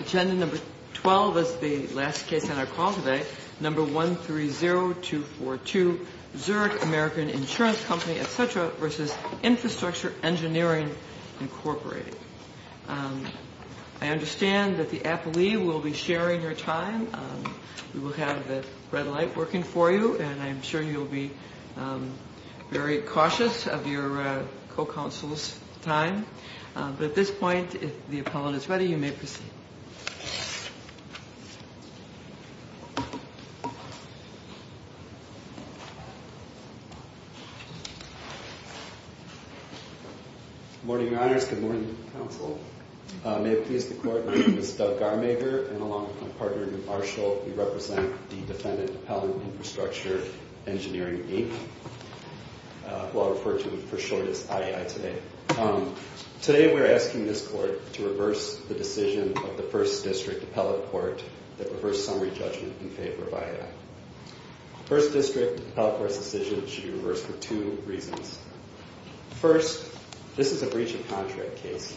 Agenda number 12 is the last case on our call today. Number 130242, Zurich American Insurance Company, etc. v. Infrastructure Engineering, Inc. I understand that the appellee will be sharing her time. We will have the red light working for you, and I'm sure you'll be very cautious of your co-counsel's time. But at this point, if the appellant is ready, you may proceed. Good morning, Your Honors. Good morning, Counsel. May it please the Court, my name is Doug Garmager, and along with my partner, Newt Marshall, we represent the defendant, Appellant, Infrastructure Engineering, Inc., who I'll refer to for short as IAI today. Today we're asking this Court to reverse the decision of the First District Appellate Court that reversed summary judgment in favor of IAI. First District Appellate Court's decision should be reversed for two reasons. First, this is a breach of contract case,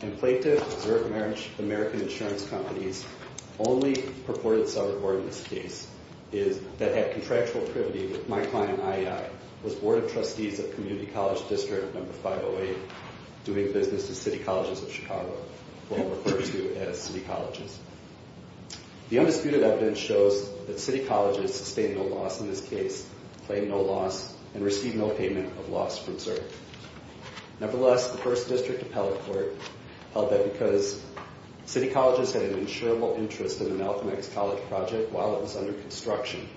and plaintiff, Zurich American Insurance Company's only purported seller board in this case that had contractual privity with my client, IAI, was Board of Trustees of Community College District No. 508, doing business with City Colleges of Chicago, who I'll refer to as City Colleges. The undisputed evidence shows that City Colleges sustained no loss in this case, claimed no loss, and received no payment of loss from Zurich. Nevertheless, the First District Appellate Court held that because City Colleges had an insurable interest in the Malcolm X College project while it was under construction,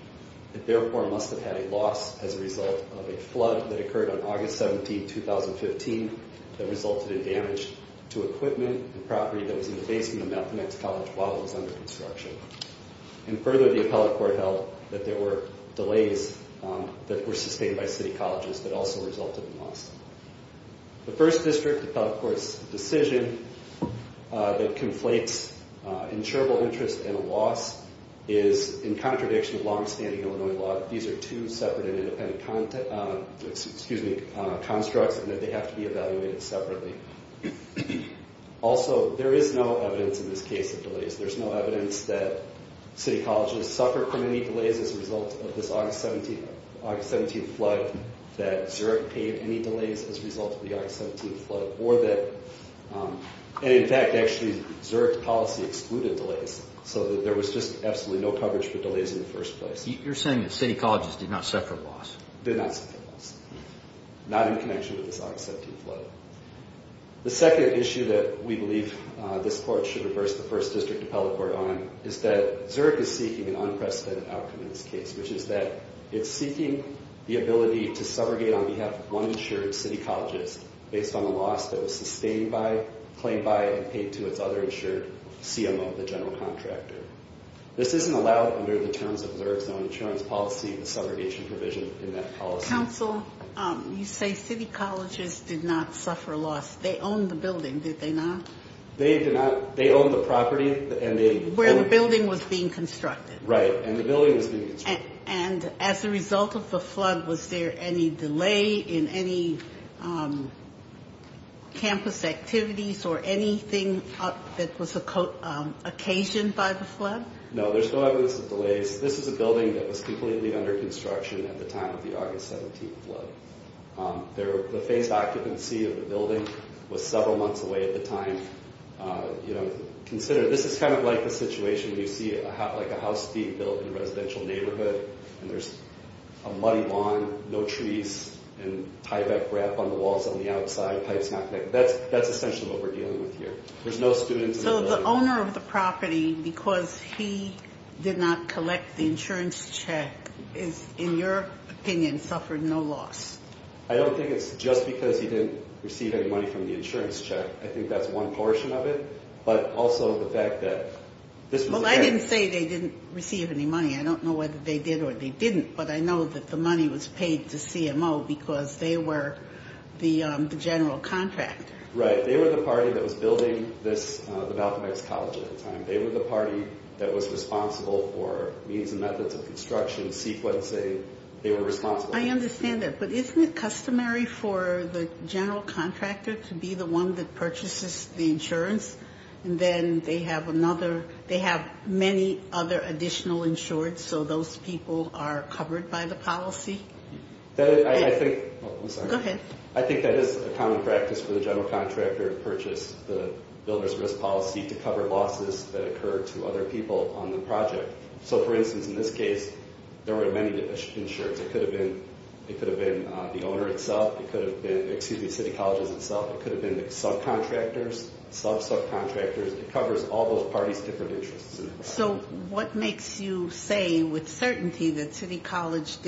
it therefore must have had a loss as a result of a flood that occurred on August 17, 2015, that resulted in damage to equipment and property that was in the basement of Malcolm X College while it was under construction. And further, the Appellate Court held that there were delays that were sustained by City Colleges that also resulted in loss. The First District Appellate Court's decision that conflates insurable interest and loss is in contradiction with long-standing Illinois law. These are two separate and independent constructs, and they have to be evaluated separately. Also, there is no evidence in this case of delays. There's no evidence that City Colleges suffered from any delays as a result of this August 17 flood, that Zurich paid any delays as a result of the August 17 flood, or that, and in fact, actually, Zurich's policy excluded delays so that there was just absolutely no coverage for delays in the first place. You're saying that City Colleges did not suffer loss? Not in connection with this August 17 flood. The second issue that we believe this Court should reverse the First District Appellate Court on is that Zurich is seeking an unprecedented outcome in this case, which is that it's seeking the ability to subrogate on behalf of one insured City Colleges based on the loss that was sustained by, claimed by, and paid to its other insured CMO, the general contractor. This isn't allowed under the terms of Zurich's own insurance policy, the subrogation provision in that policy. Counsel, you say City Colleges did not suffer loss. They owned the building, did they not? They did not. They owned the property, and they Where the building was being constructed. Right, and the building was being constructed. And as a result of the flood, was there any delay in any campus activities or anything that was occasioned by the flood? No, there's no evidence of delays. This is a building that was completely under construction at the time of the August 17 flood. The phased occupancy of the building was several months away at the time. Consider, this is kind of like the situation you see, like a house being built in a residential neighborhood, and there's a muddy lawn, no trees, and tieback ramp on the walls on the outside, pipes not connected. That's essentially what we're dealing with here. There's no students in the building. So the owner of the property, because he did not collect the insurance check, is, in your opinion, suffered no loss? I don't think it's just because he didn't receive any money from the insurance check. I think that's one portion of it, but also the fact that this was a Well, I didn't say they didn't receive any money. I don't know whether they did or they didn't, but I know that the money was paid to CMO because they were the general contractor. Right. They were the party that was building the Malcolm X College at the time. They were the party that was responsible for means and methods of construction, sequencing. They were responsible. I understand that, but isn't it customary for the general contractor to be the one that purchases the insurance? And then they have many other additional insureds, so those people are covered by the policy? I think that is a common practice for the general contractor to purchase the builder's risk policy to cover losses that occur to other people on the project. So, for instance, in this case, there were many insureds. It could have been the owner itself. It could have been, excuse me, City Colleges itself. It could have been the subcontractors, sub-subcontractors. It covers all those parties' different interests. So what makes you say with certainty that City Colleges,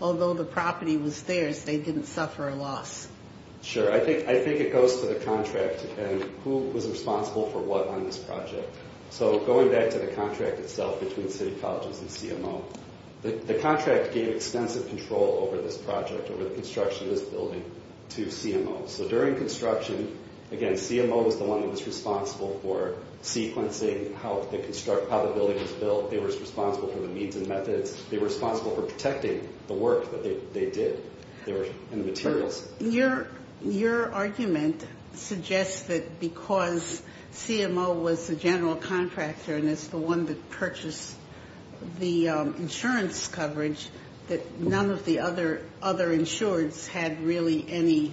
although the property was theirs, they didn't suffer a loss? Sure. I think it goes to the contract and who was responsible for what on this project. So going back to the contract itself between City Colleges and CMO, the contract gave extensive control over this project, over the construction of this building to CMO. So during construction, again, CMO was the one that was responsible for sequencing how the building was built. They were responsible for the means and methods. They were responsible for protecting the work that they did and the materials. Your argument suggests that because CMO was the general contractor and is the one that purchased the insurance coverage, that none of the other insureds had really any,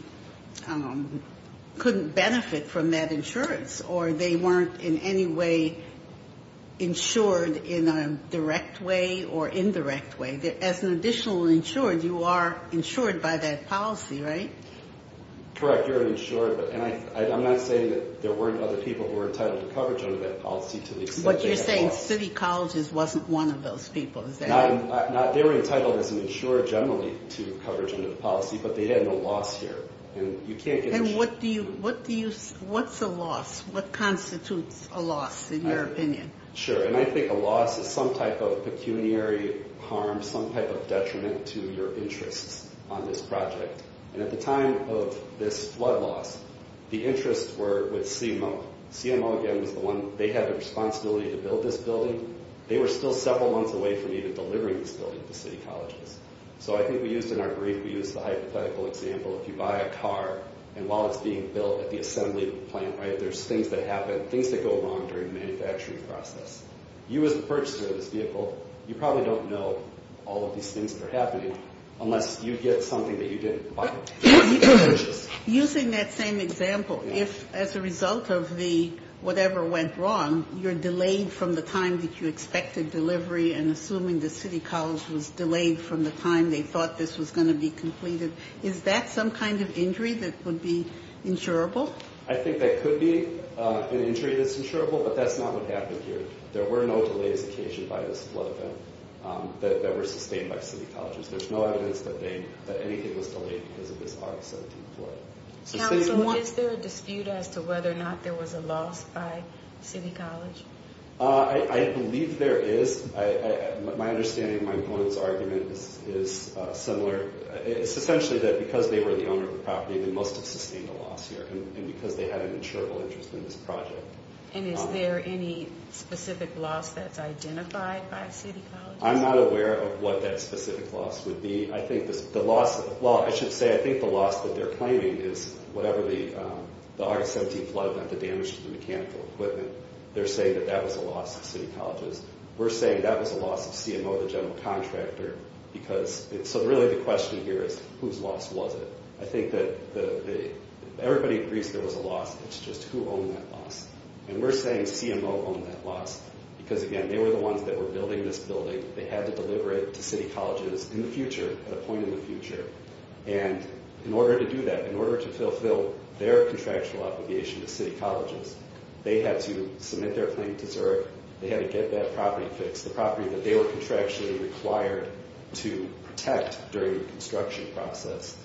couldn't benefit from that insurance, or they weren't in any way insured in a direct way or indirect way. As an additional insured, you are insured by that policy, right? Correct. You're an insured. And I'm not saying that there weren't other people who were entitled to coverage under that policy to the extent that they were. What you're saying, City Colleges wasn't one of those people, is that right? They were entitled as an insured generally to coverage under the policy, but they had no loss here. And you can't get an insured. And what do you, what's a loss? What constitutes a loss in your opinion? Sure. And I think a loss is some type of pecuniary harm, some type of detriment to your interests on this project. And at the time of this flood loss, the interests were with CMO. CMO, again, was the one, they had the responsibility to build this building. They were still several months away from even delivering this building to City Colleges. So I think we used in our brief, we used the hypothetical example. If you buy a car and while it's being built at the assembly plant, right, there's things that happen, things that go wrong during the manufacturing process. You as a purchaser of this vehicle, you probably don't know all of these things that are happening unless you get something that you didn't buy. Using that same example, if as a result of the whatever went wrong, you're delayed from the time that you expected delivery and assuming the City College was delayed from the time they thought this was going to be completed, is that some kind of injury that would be insurable? I think that could be an injury that's insurable, but that's not what happened here. There were no delays occasioned by this flood event that were sustained by City Colleges. There's no evidence that anything was delayed because of this August 17th flood. Council, is there a dispute as to whether or not there was a loss by City College? I believe there is. My understanding, my opponent's argument is similar. It's essentially that because they were the owner of the property, they must have sustained a loss here. And because they had an insurable interest in this project. And is there any specific loss that's identified by City Colleges? I'm not aware of what that specific loss would be. I think the loss that they're claiming is whatever the August 17th flood meant the damage to the mechanical equipment. They're saying that that was a loss of City Colleges. We're saying that was a loss of CMO, the general contractor. So really the question here is whose loss was it? I think that everybody agrees there was a loss. It's just who owned that loss? And we're saying CMO owned that loss. Because again, they were the ones that were building this building. They had to deliver it to City Colleges in the future, at a point in the future. And in order to do that, in order to fulfill their contractual obligation to City Colleges, they had to submit their claim to Zurich. They had to get that property fixed. The property that they were contractually required to protect during the construction process.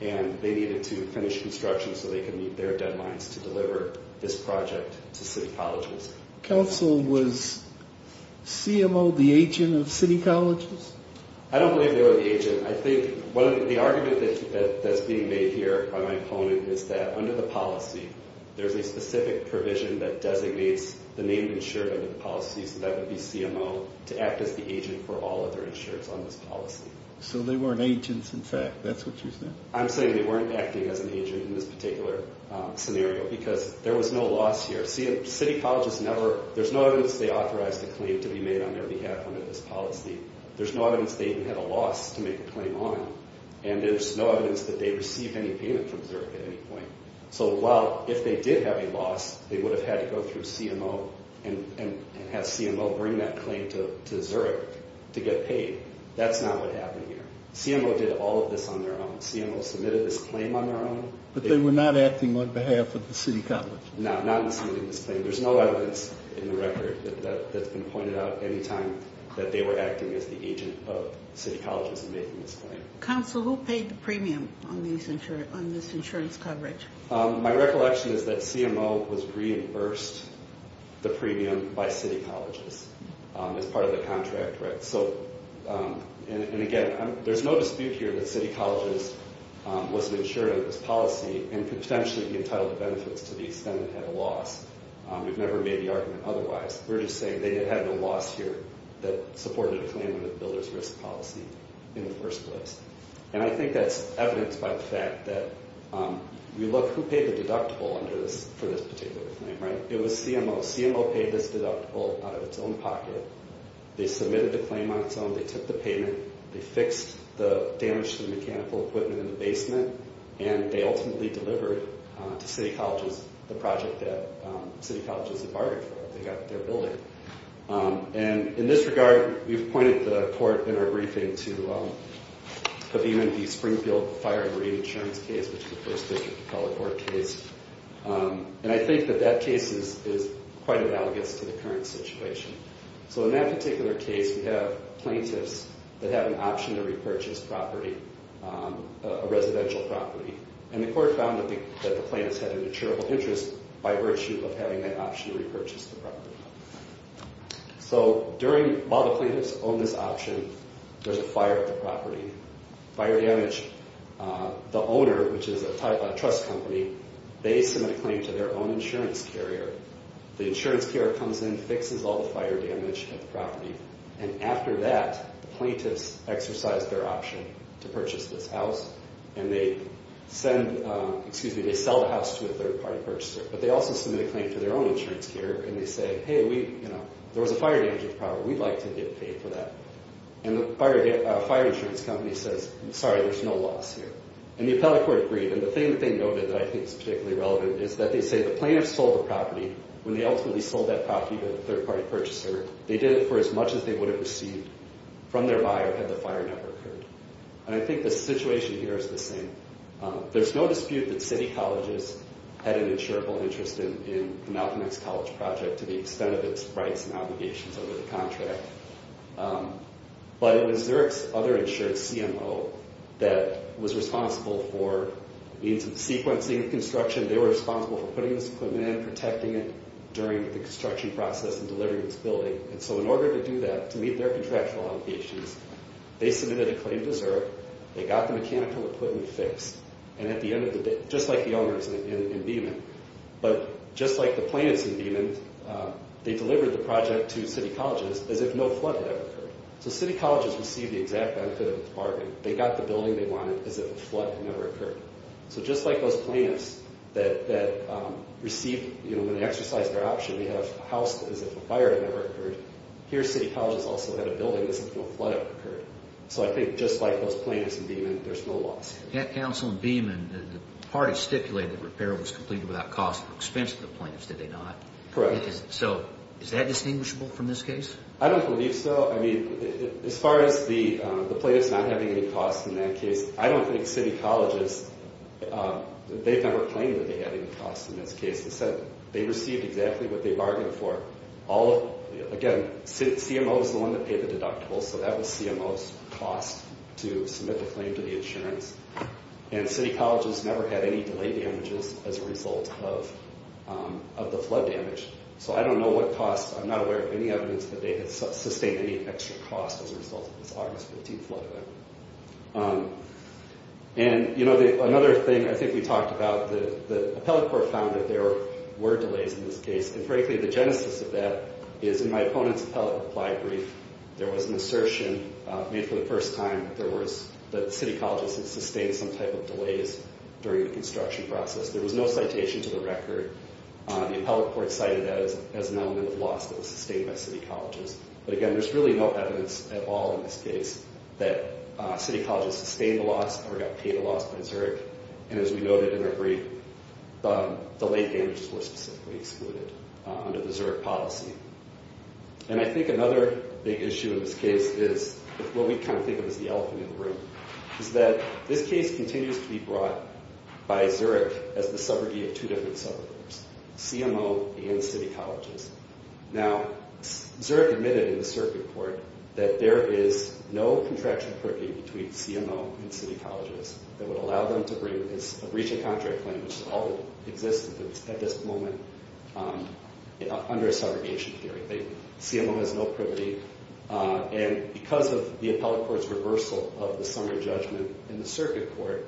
And they needed to finish construction so they could meet their deadlines to deliver this project to City Colleges. Council, was CMO the agent of City Colleges? I don't believe they were the agent. I think the argument that's being made here by my opponent is that under the policy, there's a specific provision that designates the name insured under the policy. So that would be CMO to act as the agent for all other insureds on this policy. So they weren't agents in fact? That's what you're saying? I'm saying they weren't acting as an agent in this particular scenario. Because there was no loss here. City Colleges never, there's no evidence they authorized a claim to be made on their behalf under this policy. There's no evidence they even had a loss to make a claim on. And there's no evidence that they received any payment from Zurich at any point. So while if they did have a loss, they would have had to go through CMO and have CMO bring that claim to Zurich to get paid. That's not what happened here. CMO did all of this on their own. CMO submitted this claim on their own. But they were not acting on behalf of the City Colleges? No, not in submitting this claim. There's no evidence in the record that's been pointed out any time that they were acting as the agent of City Colleges in making this claim. Counsel, who paid the premium on this insurance coverage? My recollection is that CMO was reimbursed the premium by City Colleges as part of the contract, right? So, and again, there's no dispute here that City Colleges was an insurer of this policy and could potentially be entitled to benefits to the extent it had a loss. We've never made the argument otherwise. We're just saying they had a loss here that supported a claim under the Builder's Risk Policy in the first place. And I think that's evidenced by the fact that we look who paid the deductible for this particular claim, right? It was CMO. CMO paid this deductible out of its own pocket. They submitted the claim on its own. They took the payment. They fixed the damage to the mechanical equipment in the basement. And they ultimately delivered to City Colleges the project that City Colleges had bargained for. They got their building. And in this regard, we've appointed the court in our briefing to have even the Springfield Fire and Reinsurance case, which the First District called a court case. And I think that that case is quite analogous to the current situation. So in that particular case, we have plaintiffs that have an option to repurchase property, a residential property. And the court found that the plaintiffs had an insurable interest by virtue of having that option to repurchase the property. So while the plaintiffs own this option, there's a fire at the property. Fire damaged the owner, which is a trust company. They submit a claim to their own insurance carrier. The insurance carrier comes in, fixes all the fire damage at the property. And after that, the plaintiffs exercise their option to purchase this house. And they sell the house to a third-party purchaser. But they also submit a claim to their own insurance carrier. And they say, hey, there was a fire damage at the property. We'd like to get paid for that. And the fire insurance company says, sorry, there's no loss here. And the appellate court agreed. And the thing that they noted that I think is particularly relevant is that they say the plaintiffs sold the property. When they ultimately sold that property to the third-party purchaser, they did it for as much as they would have received from their buyer had the fire never occurred. And I think the situation here is the same. There's no dispute that City Colleges had an insurable interest in the Malcolm X College project to the extent of its rights and obligations under the contract. But it was Zurich's other insured CMO that was responsible for sequencing construction. They were responsible for putting this equipment in, protecting it during the construction process and delivering this building. And so in order to do that, to meet their contractual obligations, they submitted a claim to Zurich. They got the mechanical equipment fixed. And at the end of the day, just like the owners in Beeman, but just like the plaintiffs in Beeman, they delivered the project to City Colleges as if no flood had ever occurred. So City Colleges received the exact benefit of the bargain. They got the building they wanted as if a flood had never occurred. So just like those plaintiffs that received, you know, when they exercised their option, they had a house as if a fire had never occurred, here City Colleges also had a building as if no flood had occurred. So I think just like those plaintiffs in Beeman, there's no loss. At Council in Beeman, the parties stipulated the repair was completed without cost or expense to the plaintiffs, did they not? Correct. So is that distinguishable from this case? I don't believe so. Well, I mean, as far as the plaintiffs not having any costs in that case, I don't think City Colleges, they've never claimed that they had any costs in this case. Instead, they received exactly what they bargained for. Again, CMO is the one that paid the deductibles, so that was CMO's cost to submit the claim to the insurance. And City Colleges never had any delay damages as a result of the flood damage. So I don't know what costs. I'm not aware of any evidence that they had sustained any extra costs as a result of this August 15th flood event. And, you know, another thing I think we talked about, the appellate court found that there were delays in this case, and frankly the genesis of that is in my opponent's appellate reply brief, there was an assertion made for the first time that City Colleges had sustained some type of delays during the construction process. There was no citation to the record. The appellate court cited that as an element of loss that was sustained by City Colleges. But again, there's really no evidence at all in this case that City Colleges sustained the loss or got paid the loss by Zurich. And as we noted in our brief, the delay damages were specifically excluded under the Zurich policy. And I think another big issue in this case is what we kind of think of as the elephant in the room, is that this case continues to be brought by Zurich as the subrogate of two different subrogates, CMO and City Colleges. Now, Zurich admitted in the circuit court that there is no contractual privity between CMO and City Colleges that would allow them to reach a contract claim, which is all that exists at this moment under a subrogation theory. CMO has no privity. And because of the appellate court's reversal of the summary judgment in the circuit court,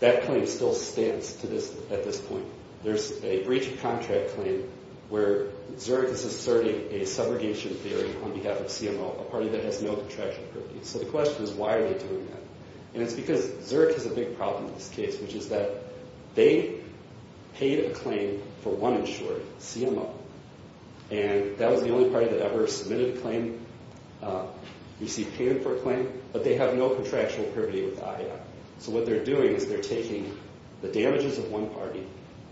that claim still stands at this point. There's a breach of contract claim where Zurich is asserting a subrogation theory on behalf of CMO, a party that has no contractual privity. So the question is, why are they doing that? And it's because Zurich has a big problem in this case, which is that they paid a claim for one insurer, CMO, and that was the only party that ever submitted a claim, received payment for a claim, but they have no contractual privity with IA. So what they're doing is they're taking the damages of one party,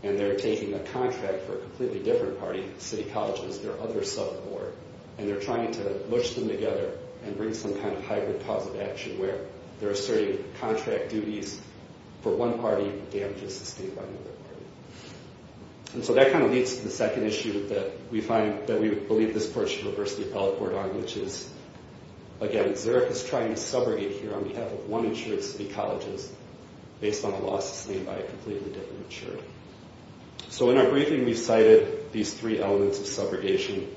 and they're taking a contract for a completely different party, City Colleges, their other sub board, and they're trying to mush them together and bring some kind of hybrid positive action where they're asserting contract duties for one party, damages sustained by another party. And so that kind of leads to the second issue that we find that we believe this court should reverse the appellate court on, which is, again, Zurich is trying to subrogate here on behalf of one insurer, City Colleges, based on a law sustained by a completely different insurer. So in our briefing, we cited these three elements of subrogation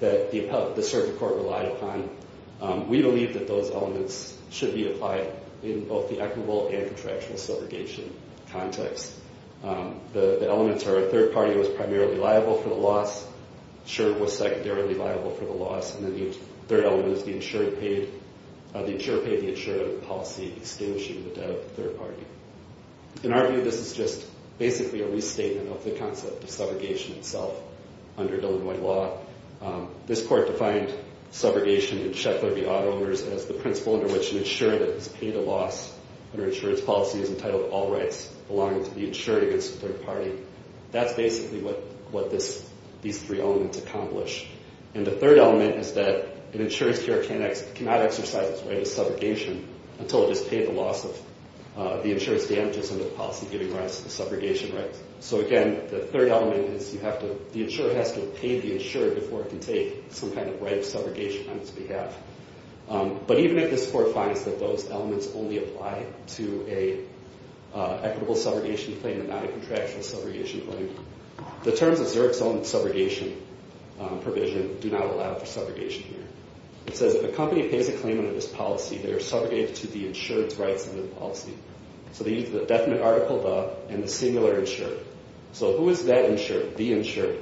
that the circuit court relied upon. We believe that those elements should be applied in both the equitable and contractual subrogation context. The elements are a third party was primarily liable for the loss, insurer was secondarily liable for the loss, and then the third element is the insurer paid the insurer the policy extinguishing the debt of the third party. In our view, this is just basically a restatement of the concept of subrogation itself under Illinois law. This court defined subrogation in Sheckler v. Auto Owners as the principle under which an insurer that has paid a loss under insurance policy is entitled to all rights belonging to the insurer against the third party. That's basically what these three elements accomplish. And the third element is that an insurer cannot exercise his right of subrogation until it has paid the loss of the insurance damages under the policy giving rise to the subrogation rights. So again, the third element is the insurer has to have paid the insurer before it can take some kind of right of subrogation on its behalf. But even if this court finds that those elements only apply to an equitable subrogation claim and not a contractual subrogation claim, the terms of Zurich's own subrogation provision do not allow for subrogation here. It says if a company pays a claim under this policy, they are subrogated to the insured's rights under the policy. So they use the definite article the and the singular insured. So who is that insured, the insured?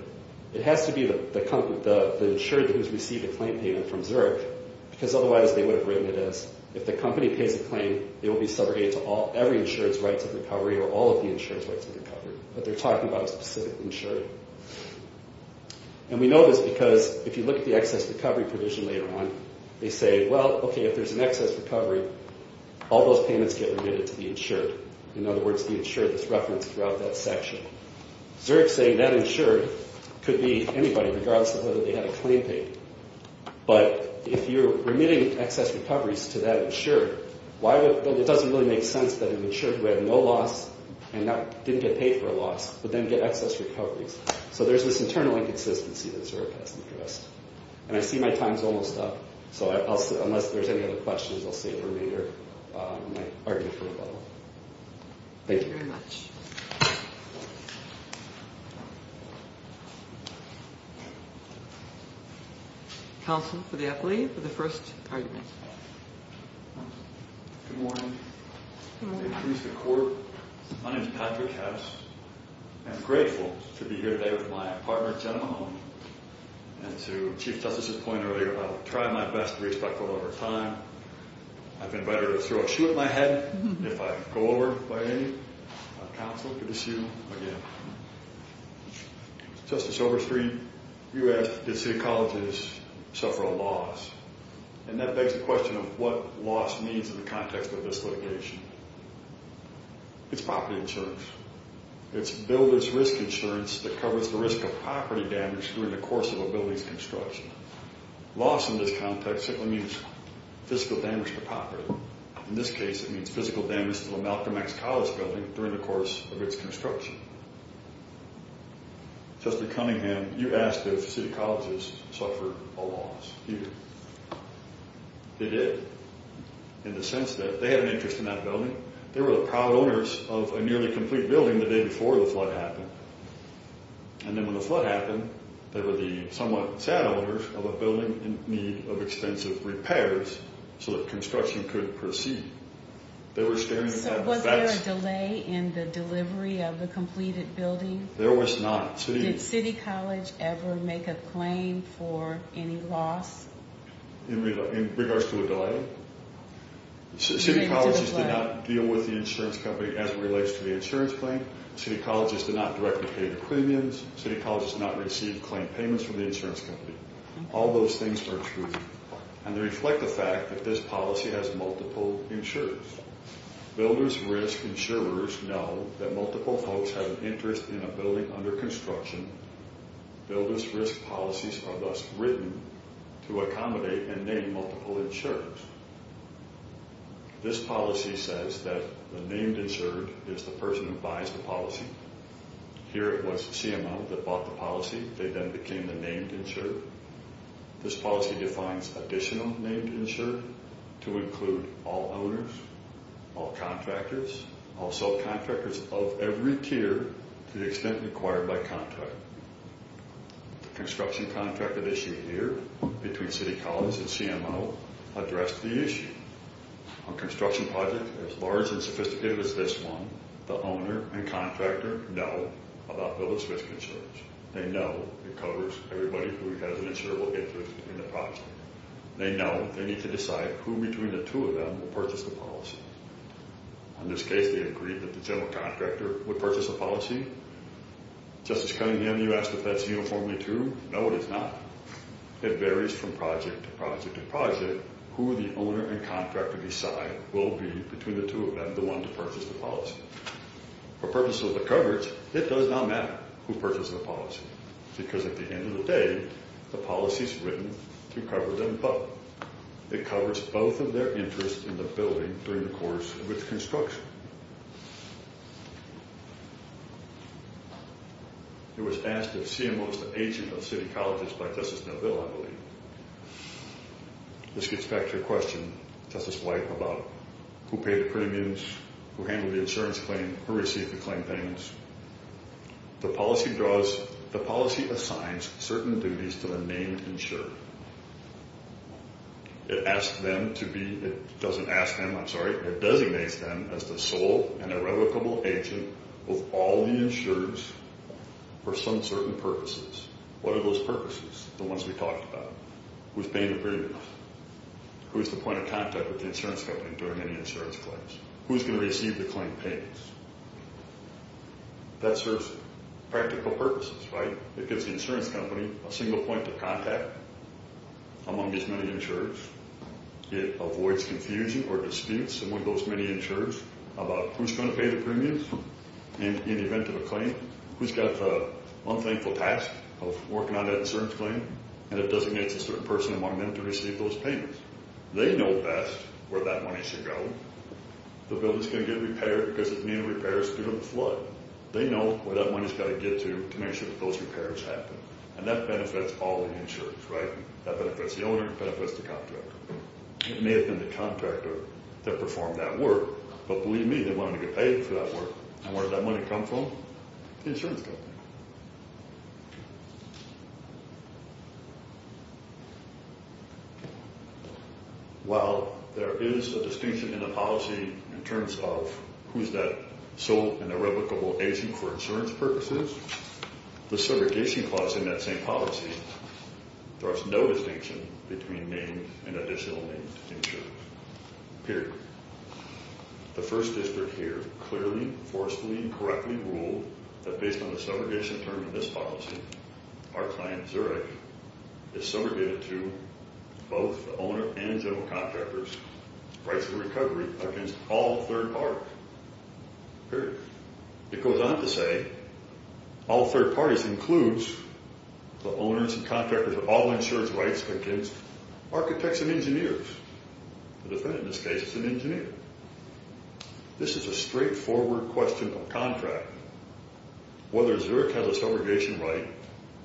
It has to be the insured who has received a claim payment from Zurich because otherwise they would have written it as if the company pays a claim, it will be subrogated to every insured's rights of recovery or all of the insured's rights of recovery. But they're talking about a specific insured. And we know this because if you look at the excess recovery provision later on, they say, well, okay, if there's an excess recovery, all those payments get remitted to the insured. In other words, the insured is referenced throughout that section. Zurich's saying that insured could be anybody regardless of whether they had a claim paid. But if you're remitting excess recoveries to that insured, why would – it doesn't really make sense that an insured who had no loss and didn't get paid for a loss but then get excess recoveries. So there's this internal inconsistency that Zurich has addressed. And I see my time is almost up. So unless there's any other questions, I'll save them for later in my argument for rebuttal. Thank you. Thank you very much. Counsel for the athlete for the first argument. Good morning. Good morning. My name is Patrick Hess. I'm grateful to be here today with my partner, Jenna Mahoney. And to Chief Justice's point earlier about trying my best to be respectful over time, I've been better to throw a shoe at my head if I go over by any counsel to the shoe again. Justice Overstreet, you asked, did city colleges suffer a loss? And that begs the question of what loss means in the context of this litigation. It's property insurance. It's builder's risk insurance that covers the risk of property damage during the course of a building's construction. Loss in this context simply means physical damage to property. In this case, it means physical damage to a Malcolm X College building during the course of its construction. Justice Cunningham, you asked if city colleges suffered a loss. They did, in the sense that they had an interest in that building. They were the proud owners of a nearly complete building the day before the flood happened. And then when the flood happened, they were the somewhat sad owners of a building in need of extensive repairs so that construction could proceed. So was there a delay in the delivery of the completed building? There was not. Did city college ever make a claim for any loss? In regards to a delay? City colleges did not deal with the insurance company as it relates to the insurance claim. City colleges did not directly pay the premiums. City colleges did not receive claim payments from the insurance company. All those things are true. And they reflect the fact that this policy has multiple insurers. Builders' risk insurers know that multiple folks have an interest in a building under construction. Builders' risk policies are thus written to accommodate and name multiple insurers. This policy says that the named insurer is the person who buys the policy. Here it was CMO that bought the policy. They then became the named insurer. This policy defines additional named insurer to include all owners, all contractors, all subcontractors of every tier to the extent required by contract. The construction contract that issued here between city colleges and CMO addressed the issue. On construction projects as large and sophisticated as this one, the owner and contractor know about builders' risk insurers. They know it covers everybody who has an insurable interest in the project. They know they need to decide who between the two of them will purchase the policy. In this case, they agreed that the general contractor would purchase the policy. Justice Cunningham, you asked if that's uniformly true. No, it is not. It varies from project to project to project who the owner and contractor decide will be between the two of them, the one to purchase the policy. For purposes of the coverage, it does not matter who purchases the policy because at the end of the day, the policy is written to cover them both. It covers both of their interests in the building during the course of its construction. It was asked if CMO is the agent of city colleges by Justice DelVille, I believe. This gets back to your question, Justice White, about who paid the premiums, who handled the insurance claim, who received the claim payments. The policy assigns certain duties to the named insurer. It doesn't ask them, I'm sorry, it designates them as the sole and irrevocable agent of all the insurers for some certain purposes. What are those purposes, the ones we talked about? Who's paying the premiums? Who's the point of contact with the insurance company during any insurance claims? Who's going to receive the claim payments? That serves practical purposes, right? It gives the insurance company a single point of contact among these many insurers. It avoids confusion or disputes among those many insurers about who's going to pay the premiums in the event of a claim. Who's got the unthankful task of working on that insurance claim? And it designates a certain person among them to receive those payments. They know best where that money should go. The building's going to get repaired because it's being repaired due to the flood. They know where that money's got to get to to make sure that those repairs happen. And that benefits all the insurers, right? That benefits the owner, it benefits the contractor. It may have been the contractor that performed that work, but believe me, they wanted to get paid for that work. And where did that money come from? The insurance company. While there is a distinction in the policy in terms of who's that sole and irrevocable agent for insurance purposes, the segregation clause in that same policy draws no distinction between named and additional named insurers. Period. The first district here clearly, forcefully, and correctly ruled that based on the segregation term in this policy, our client, Zurich, is segregated to both the owner and general contractors, rights of recovery against all third parties. Period. It goes on to say all third parties includes the owners and contractors of all insurance rights against architects and engineers. The defendant in this case is an engineer. This is a straightforward question of contract. Whether Zurich has a segregation right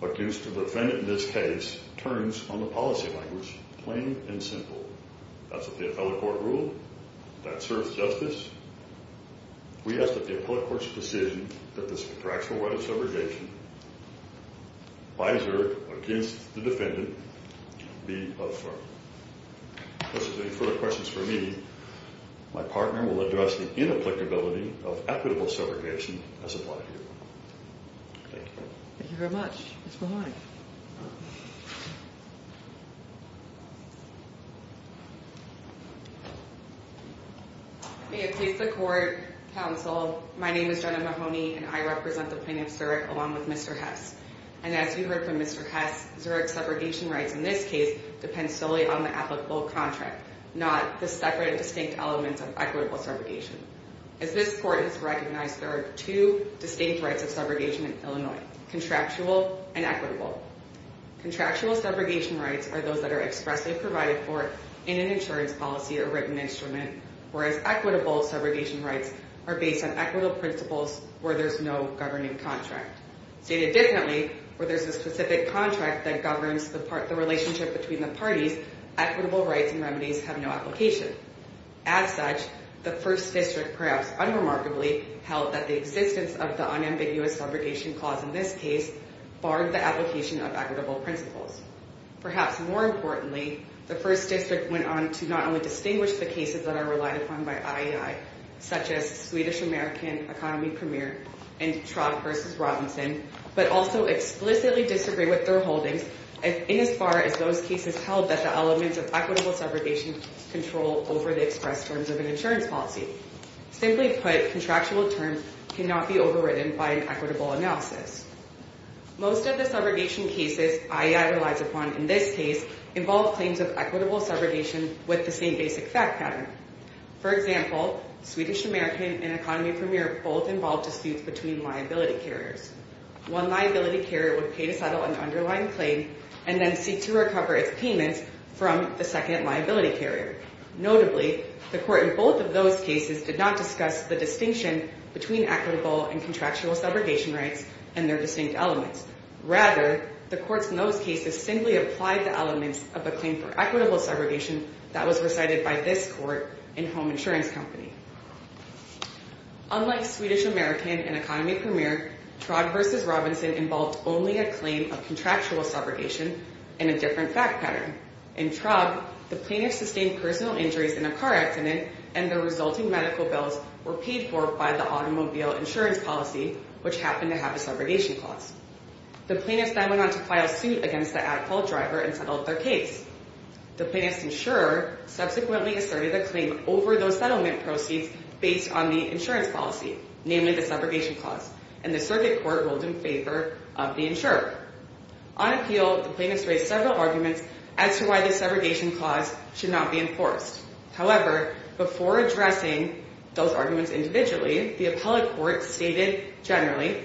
against the defendant in this case turns on the policy language plain and simple. That's what the appellate court ruled. That serves justice. We ask that the appellate court's decision that this contractual right of segregation by Zurich against the defendant be affirmed. If there's any further questions for me, my partner will address the inapplicability of equitable segregation as applied here. Thank you. Ms. Mahoney. May it please the court, counsel, my name is Jenna Mahoney, and I represent the plaintiff, Zurich, along with Mr. Hess. And as you heard from Mr. Hess, Zurich's segregation rights in this case depends solely on the applicable contract, not the separate and distinct elements of equitable segregation. As this court has recognized, there are two distinct rights of segregation in Illinois, contractual and equitable. Contractual segregation rights are those that are expressly provided for in an insurance policy or written instrument, whereas equitable segregation rights are based on equitable principles where there's no governing contract. Stated differently, where there's a specific contract that governs the relationship between the parties, equitable rights and remedies have no application. As such, the first district perhaps unremarkably held that the existence of the unambiguous segregation clause in this case barred the application of equitable principles. Perhaps more importantly, the first district went on to not only distinguish the cases that are relied upon by IAI, such as Swedish American Economy Premier and Trott v. Robinson, but also explicitly disagree with their holdings in as far as those cases held that the elements of equitable segregation control over the express terms of an insurance policy. Simply put, contractual terms cannot be overridden by an equitable analysis. Most of the segregation cases IAI relies upon in this case involve claims of equitable segregation with the same basic fact pattern. For example, Swedish American and Economy Premier both involve disputes between liability carriers. One liability carrier would pay to settle an underlying claim and then seek to recover its payments from the second liability carrier. Notably, the court in both of those cases did not discuss the distinction between equitable and contractual segregation rights and their distinct elements. Rather, the courts in those cases simply applied the elements of a claim for equitable segregation that was recited by this court in Home Insurance Company. Unlike Swedish American and Economy Premier, Trott v. Robinson involved only a claim of contractual segregation and a different fact pattern. In Trott, the plaintiffs sustained personal injuries in a car accident and the resulting medical bills were paid for by the automobile insurance policy, which happened to have a segregation clause. The plaintiffs then went on to file suit against the at-fault driver and settled their case. The plaintiff's insurer subsequently asserted a claim over those settlement proceeds based on the insurance policy, namely the segregation clause, and the circuit court ruled in favor of the insurer. On appeal, the plaintiffs raised several arguments as to why the segregation clause should not be enforced. However, before addressing those arguments individually, the appellate court stated generally,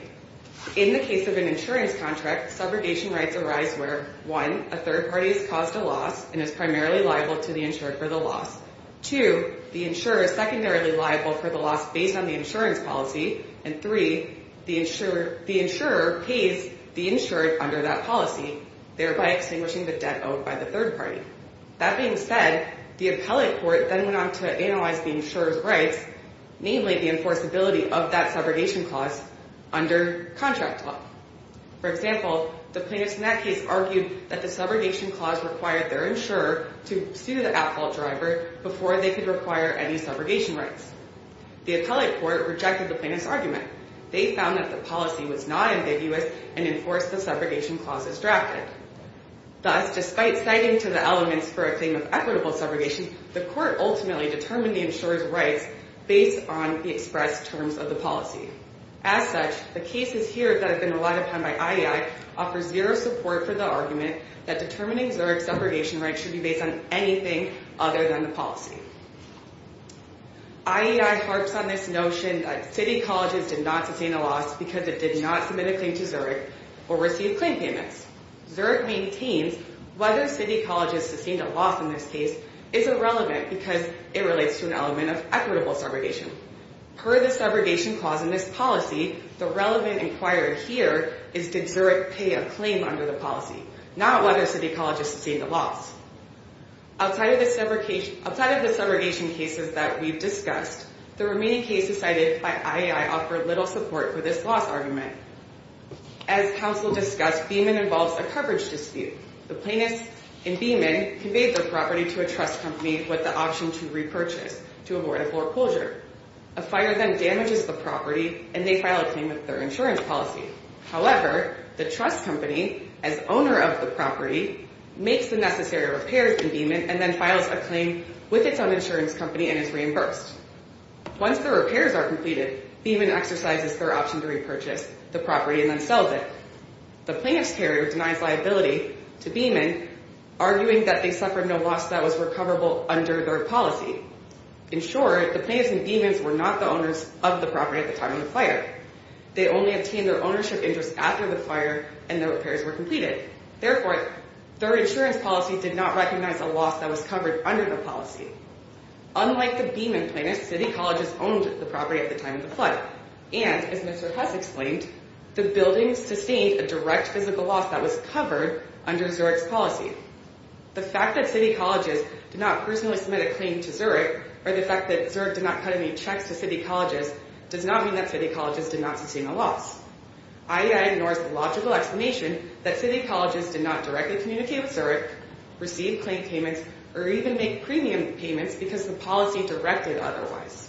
in the case of an insurance contract, segregation rights arise where, one, a third party has caused a loss and is primarily liable to the insured for the loss. Two, the insurer is secondarily liable for the loss based on the insurance policy. And three, the insurer pays the insured under that policy, thereby extinguishing the debt owed by the third party. That being said, the appellate court then went on to analyze the insurer's rights, namely the enforceability of that segregation clause, under contract law. For example, the plaintiffs in that case argued that the segregation clause required their insurer to sue the at-fault driver before they could require any segregation rights. The appellate court rejected the plaintiffs' argument. They found that the policy was not ambiguous and enforced the segregation clauses drafted. Thus, despite citing to the elements for a claim of equitable segregation, the court ultimately determined the insurer's rights based on the expressed terms of the policy. As such, the cases here that have been relied upon by IEI offer zero support for the argument that determining Zurich's segregation rights should be based on anything other than the policy. IEI harps on this notion that city colleges did not sustain a loss because it did not submit a claim to Zurich or receive claim payments. Zurich maintains whether city colleges sustained a loss in this case is irrelevant because it relates to an element of equitable segregation. Per the segregation clause in this policy, the relevant inquiry here is did Zurich pay a claim under the policy, not whether city colleges sustained a loss. Outside of the segregation cases that we've discussed, the remaining cases cited by IEI offer little support for this loss argument. As counsel discussed, Beeman involves a coverage dispute. The plaintiffs in Beeman conveyed their property to a trust company with the option to repurchase to avoid a foreclosure. A fire then damages the property, and they file a claim with their insurance policy. However, the trust company, as owner of the property, makes the necessary repairs in Beeman and then files a claim with its own insurance company and is reimbursed. Once the repairs are completed, Beeman exercises their option to repurchase the property and then sells it. The plaintiff's carrier denies liability to Beeman, arguing that they suffered no loss that was recoverable under their policy. In short, the plaintiffs in Beeman were not the owners of the property at the time of the fire. They only obtained their ownership interest after the fire and the repairs were completed. Therefore, their insurance policy did not recognize a loss that was covered under the policy. Unlike the Beeman plaintiffs, City Colleges owned the property at the time of the flood. And, as Mr. Huss explained, the building sustained a direct physical loss that was covered under Zurich's policy. The fact that City Colleges did not personally submit a claim to Zurich, or the fact that Zurich did not cut any checks to City Colleges, does not mean that City Colleges did not sustain a loss. IEI ignores the logical explanation that City Colleges did not directly communicate with Zurich, receive claim payments, or even make premium payments because the policy directed otherwise.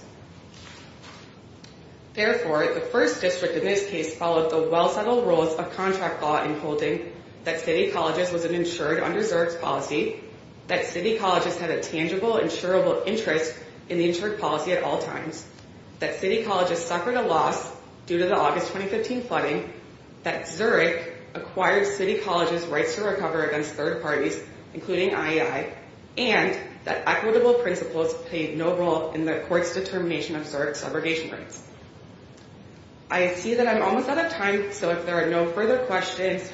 Therefore, the First District in this case followed the well-settled rules of contract law in holding that City Colleges was insured under Zurich's policy, that City Colleges had a tangible, insurable interest in the insured policy at all times, that City Colleges suffered a loss due to the August 2015 flooding, that Zurich acquired City Colleges' rights to recover against third parties, including IEI, and that equitable principles played no role in the court's determination of Zurich's segregation rights. I see that I'm almost out of time, so if there are no further questions,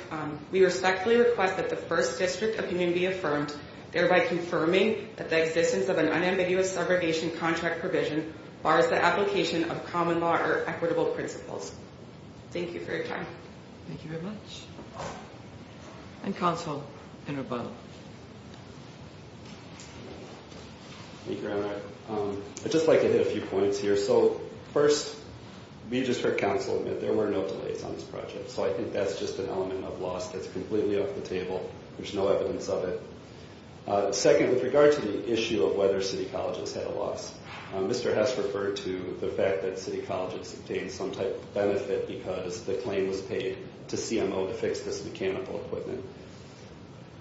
we respectfully request that the First District opinion be affirmed, thereby confirming that the existence of an unambiguous segregation contract provision bars the application of common law or equitable principles. Thank you for your time. Thank you very much. And Council, in rebuttal. Thank you, Your Honor. I'd just like to hit a few points here. So, first, we just heard Council admit there were no delays on this project, so I think that's just an element of loss that's completely off the table. There's no evidence of it. Second, with regard to the issue of whether City Colleges had a loss, Mr. Hess referred to the fact that City Colleges obtained some type of benefit because the claim was paid to CMO to fix this mechanical equipment.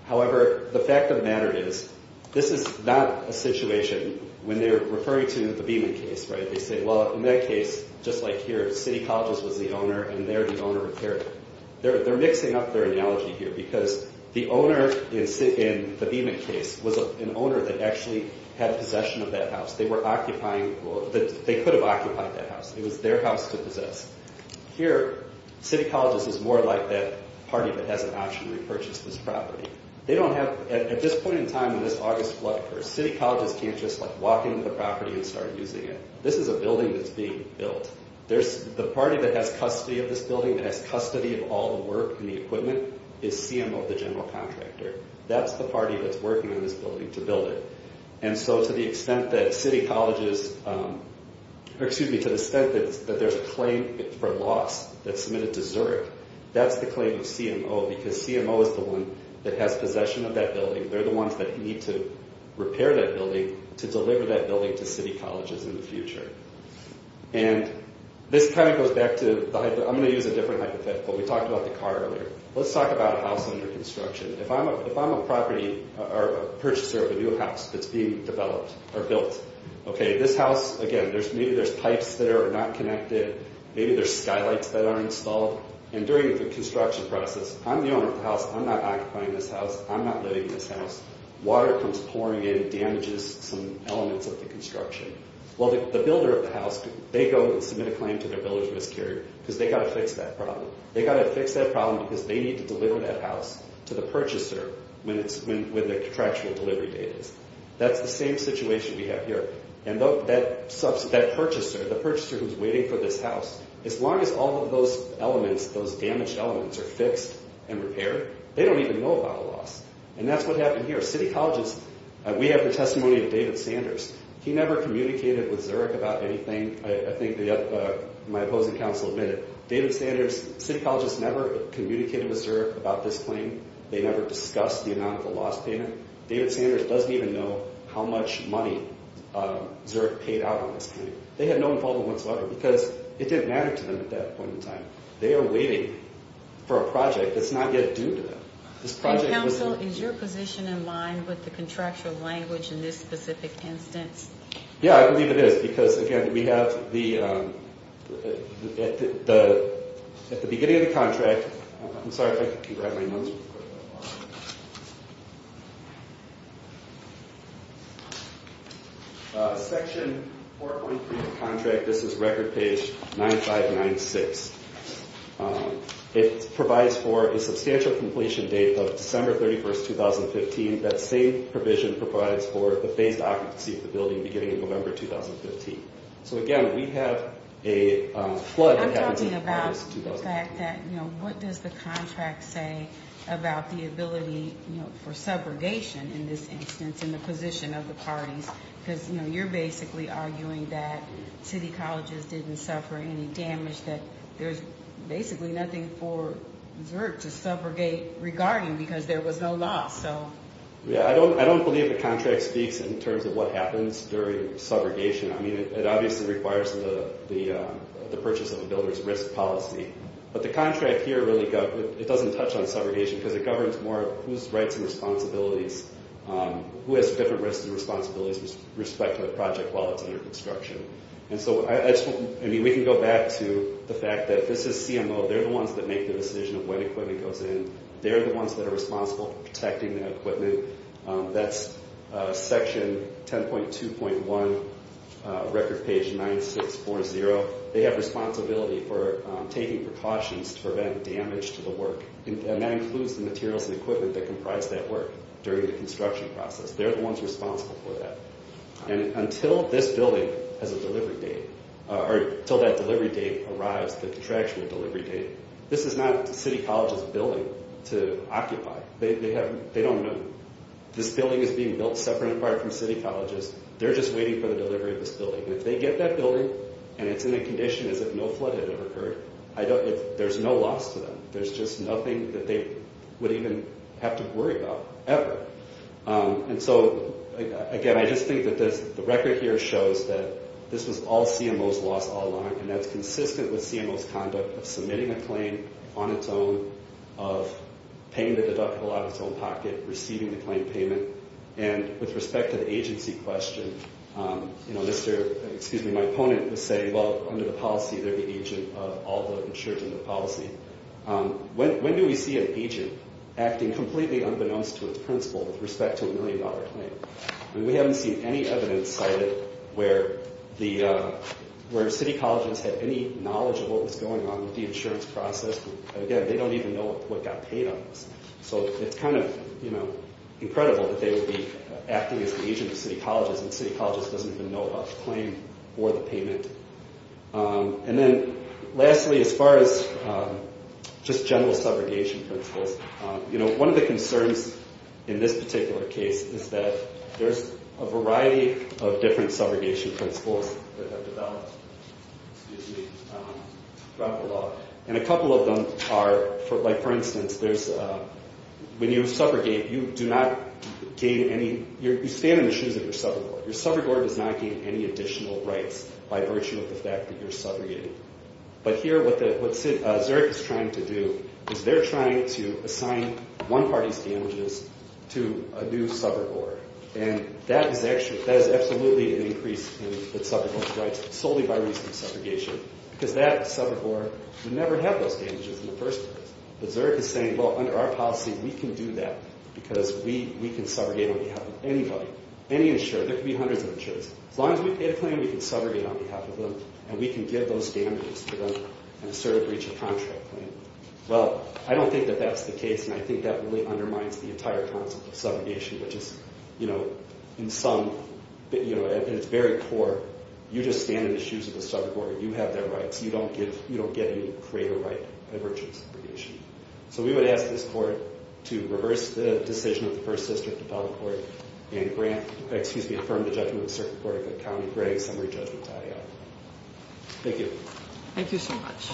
However, the fact of the matter is, this is not a situation when they're referring to the Beeman case, right? They say, well, in that case, just like here, City Colleges was the owner, and they're the owner of here. They're mixing up their analogy here because the owner in the Beeman case was an owner that actually had a possession of that house. They were occupying, they could have occupied that house. It was their house to possess. Here, City Colleges is more like that party that has an option to repurchase this property. They don't have, at this point in time, in this August flood curse, City Colleges can't just walk into the property and start using it. This is a building that's being built. The party that has custody of this building, that has custody of all the work and the equipment, is CMO, the general contractor. That's the party that's working on this building to build it. And so to the extent that City Colleges, or excuse me, to the extent that there's a claim for loss that's submitted to Zurich, that's the claim of CMO, because CMO is the one that has possession of that building. They're the ones that need to repair that building to deliver that building to City Colleges in the future. And this kind of goes back to the, I'm going to use a different hypothetical. We talked about the car earlier. Let's talk about a house under construction. If I'm a property or a purchaser of a new house that's being developed or built, okay, this house, again, maybe there's pipes that are not connected. Maybe there's skylights that aren't installed. And during the construction process, I'm the owner of the house. I'm not occupying this house. I'm not living in this house. Water comes pouring in, damages some elements of the construction. Well, the builder of the house, they go and submit a claim to their builder's miscarrier, because they've got to fix that problem. Because they need to deliver that house to the purchaser when the contractual delivery date is. That's the same situation we have here. And that purchaser, the purchaser who's waiting for this house, as long as all of those elements, those damaged elements, are fixed and repaired, they don't even know about a loss. And that's what happened here. City Colleges, we have the testimony of David Sanders. He never communicated with Zurich about anything. I think my opposing counsel admitted. David Sanders, City Colleges never communicated with Zurich about this claim. They never discussed the amount of the loss payment. David Sanders doesn't even know how much money Zurich paid out on this claim. They had no involvement whatsoever, because it didn't matter to them at that point in time. They are waiting for a project that's not yet due to them. And, counsel, is your position in line with the contractual language in this specific instance? Yeah, I believe it is. Because, again, we have the, at the beginning of the contract, I'm sorry if I can grab my notes real quick. Section 4.3 of the contract, this is record page 9596. It provides for a substantial completion date of December 31, 2015. That same provision provides for the phased occupancy of the building beginning in November 2015. So, again, we have a flood that happens in August 2015. I'm talking about the fact that, you know, what does the contract say about the ability, you know, for subrogation in this instance in the position of the parties? Because, you know, you're basically arguing that City Colleges didn't suffer any damage, that there's basically nothing for Zurich to subrogate regarding, because there was no loss. Yeah, I don't believe the contract speaks in terms of what happens during subrogation. I mean, it obviously requires the purchase of a builder's risk policy. But the contract here really doesn't touch on subrogation, because it governs more whose rights and responsibilities, who has different risks and responsibilities with respect to the project while it's under construction. And so, I mean, we can go back to the fact that this is CMO. They're the ones that make the decision of when equipment goes in. They're the ones that are responsible for protecting the equipment. That's section 10.2.1, record page 9640. They have responsibility for taking precautions to prevent damage to the work. And that includes the materials and equipment that comprise that work during the construction process. They're the ones responsible for that. And until this building has a delivery date, or until that delivery date arrives, the contractual delivery date, this is not City College's building to occupy. They don't know. This building is being built separate and apart from City College's. They're just waiting for the delivery of this building. And if they get that building, and it's in a condition as if no flood had ever occurred, there's no loss to them. There's just nothing that they would even have to worry about, ever. And so, again, I just think that the record here shows that this was all CMO's loss all along, and that's consistent with CMO's conduct of submitting a claim on its own, of paying the deductible out of its own pocket, receiving the claim payment. And with respect to the agency question, you know, my opponent would say, well, under the policy, they're the agent of all the insurance in the policy. When do we see an agent acting completely unbeknownst to its principal with respect to a million-dollar claim? I mean, we haven't seen any evidence cited where City Colleges had any knowledge of what was going on with the insurance process. Again, they don't even know what got paid on this. So it's kind of, you know, incredible that they would be acting as the agent of City Colleges and City Colleges doesn't even know about the claim or the payment. And then, lastly, as far as just general subrogation principles, you know, one of the concerns in this particular case is that there's a variety of different subrogation principles that have developed, excuse me, throughout the law. And a couple of them are, like, for instance, there's when you subrogate, you do not gain any, you stand on the shoes of your subrogator. Your subrogator does not gain any additional rights by virtue of the fact that you're subrogating. But here, what Zurich is trying to do is they're trying to assign one party's damages to a new subrogore. And that is absolutely an increase in the subrogation rights solely by reason of subrogation because that subrogore would never have those damages in the first place. But Zurich is saying, well, under our policy, we can do that because we can subrogate on behalf of anybody, any insurer. There could be hundreds of insurers. As long as we pay the claim, we can subrogate on behalf of them, and we can give those damages to them in a sort of breach of contract claim. Well, I don't think that that's the case, and I think that really undermines the entire concept of subrogation, which is, you know, in some, you know, at its very core, you just stand on the shoes of the subrogore. You have their rights. You don't get any greater right by virtue of subrogation. So we would ask this Court to reverse the decision of the First District Appellate Court and grant, excuse me, affirm the judgment of the Circuit Court of the County of Gregg, summary judgment tie-out. Thank you. Thank you so much.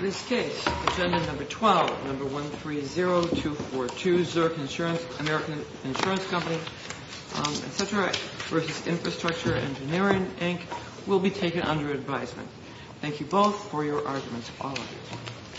This case, Agenda Number 12, Number 130242, Zurich Insurance, American Insurance Company, et cetera, versus Infrastructure Engineering, Inc., will be taken under advisement. Thank you both for your arguments. All of you.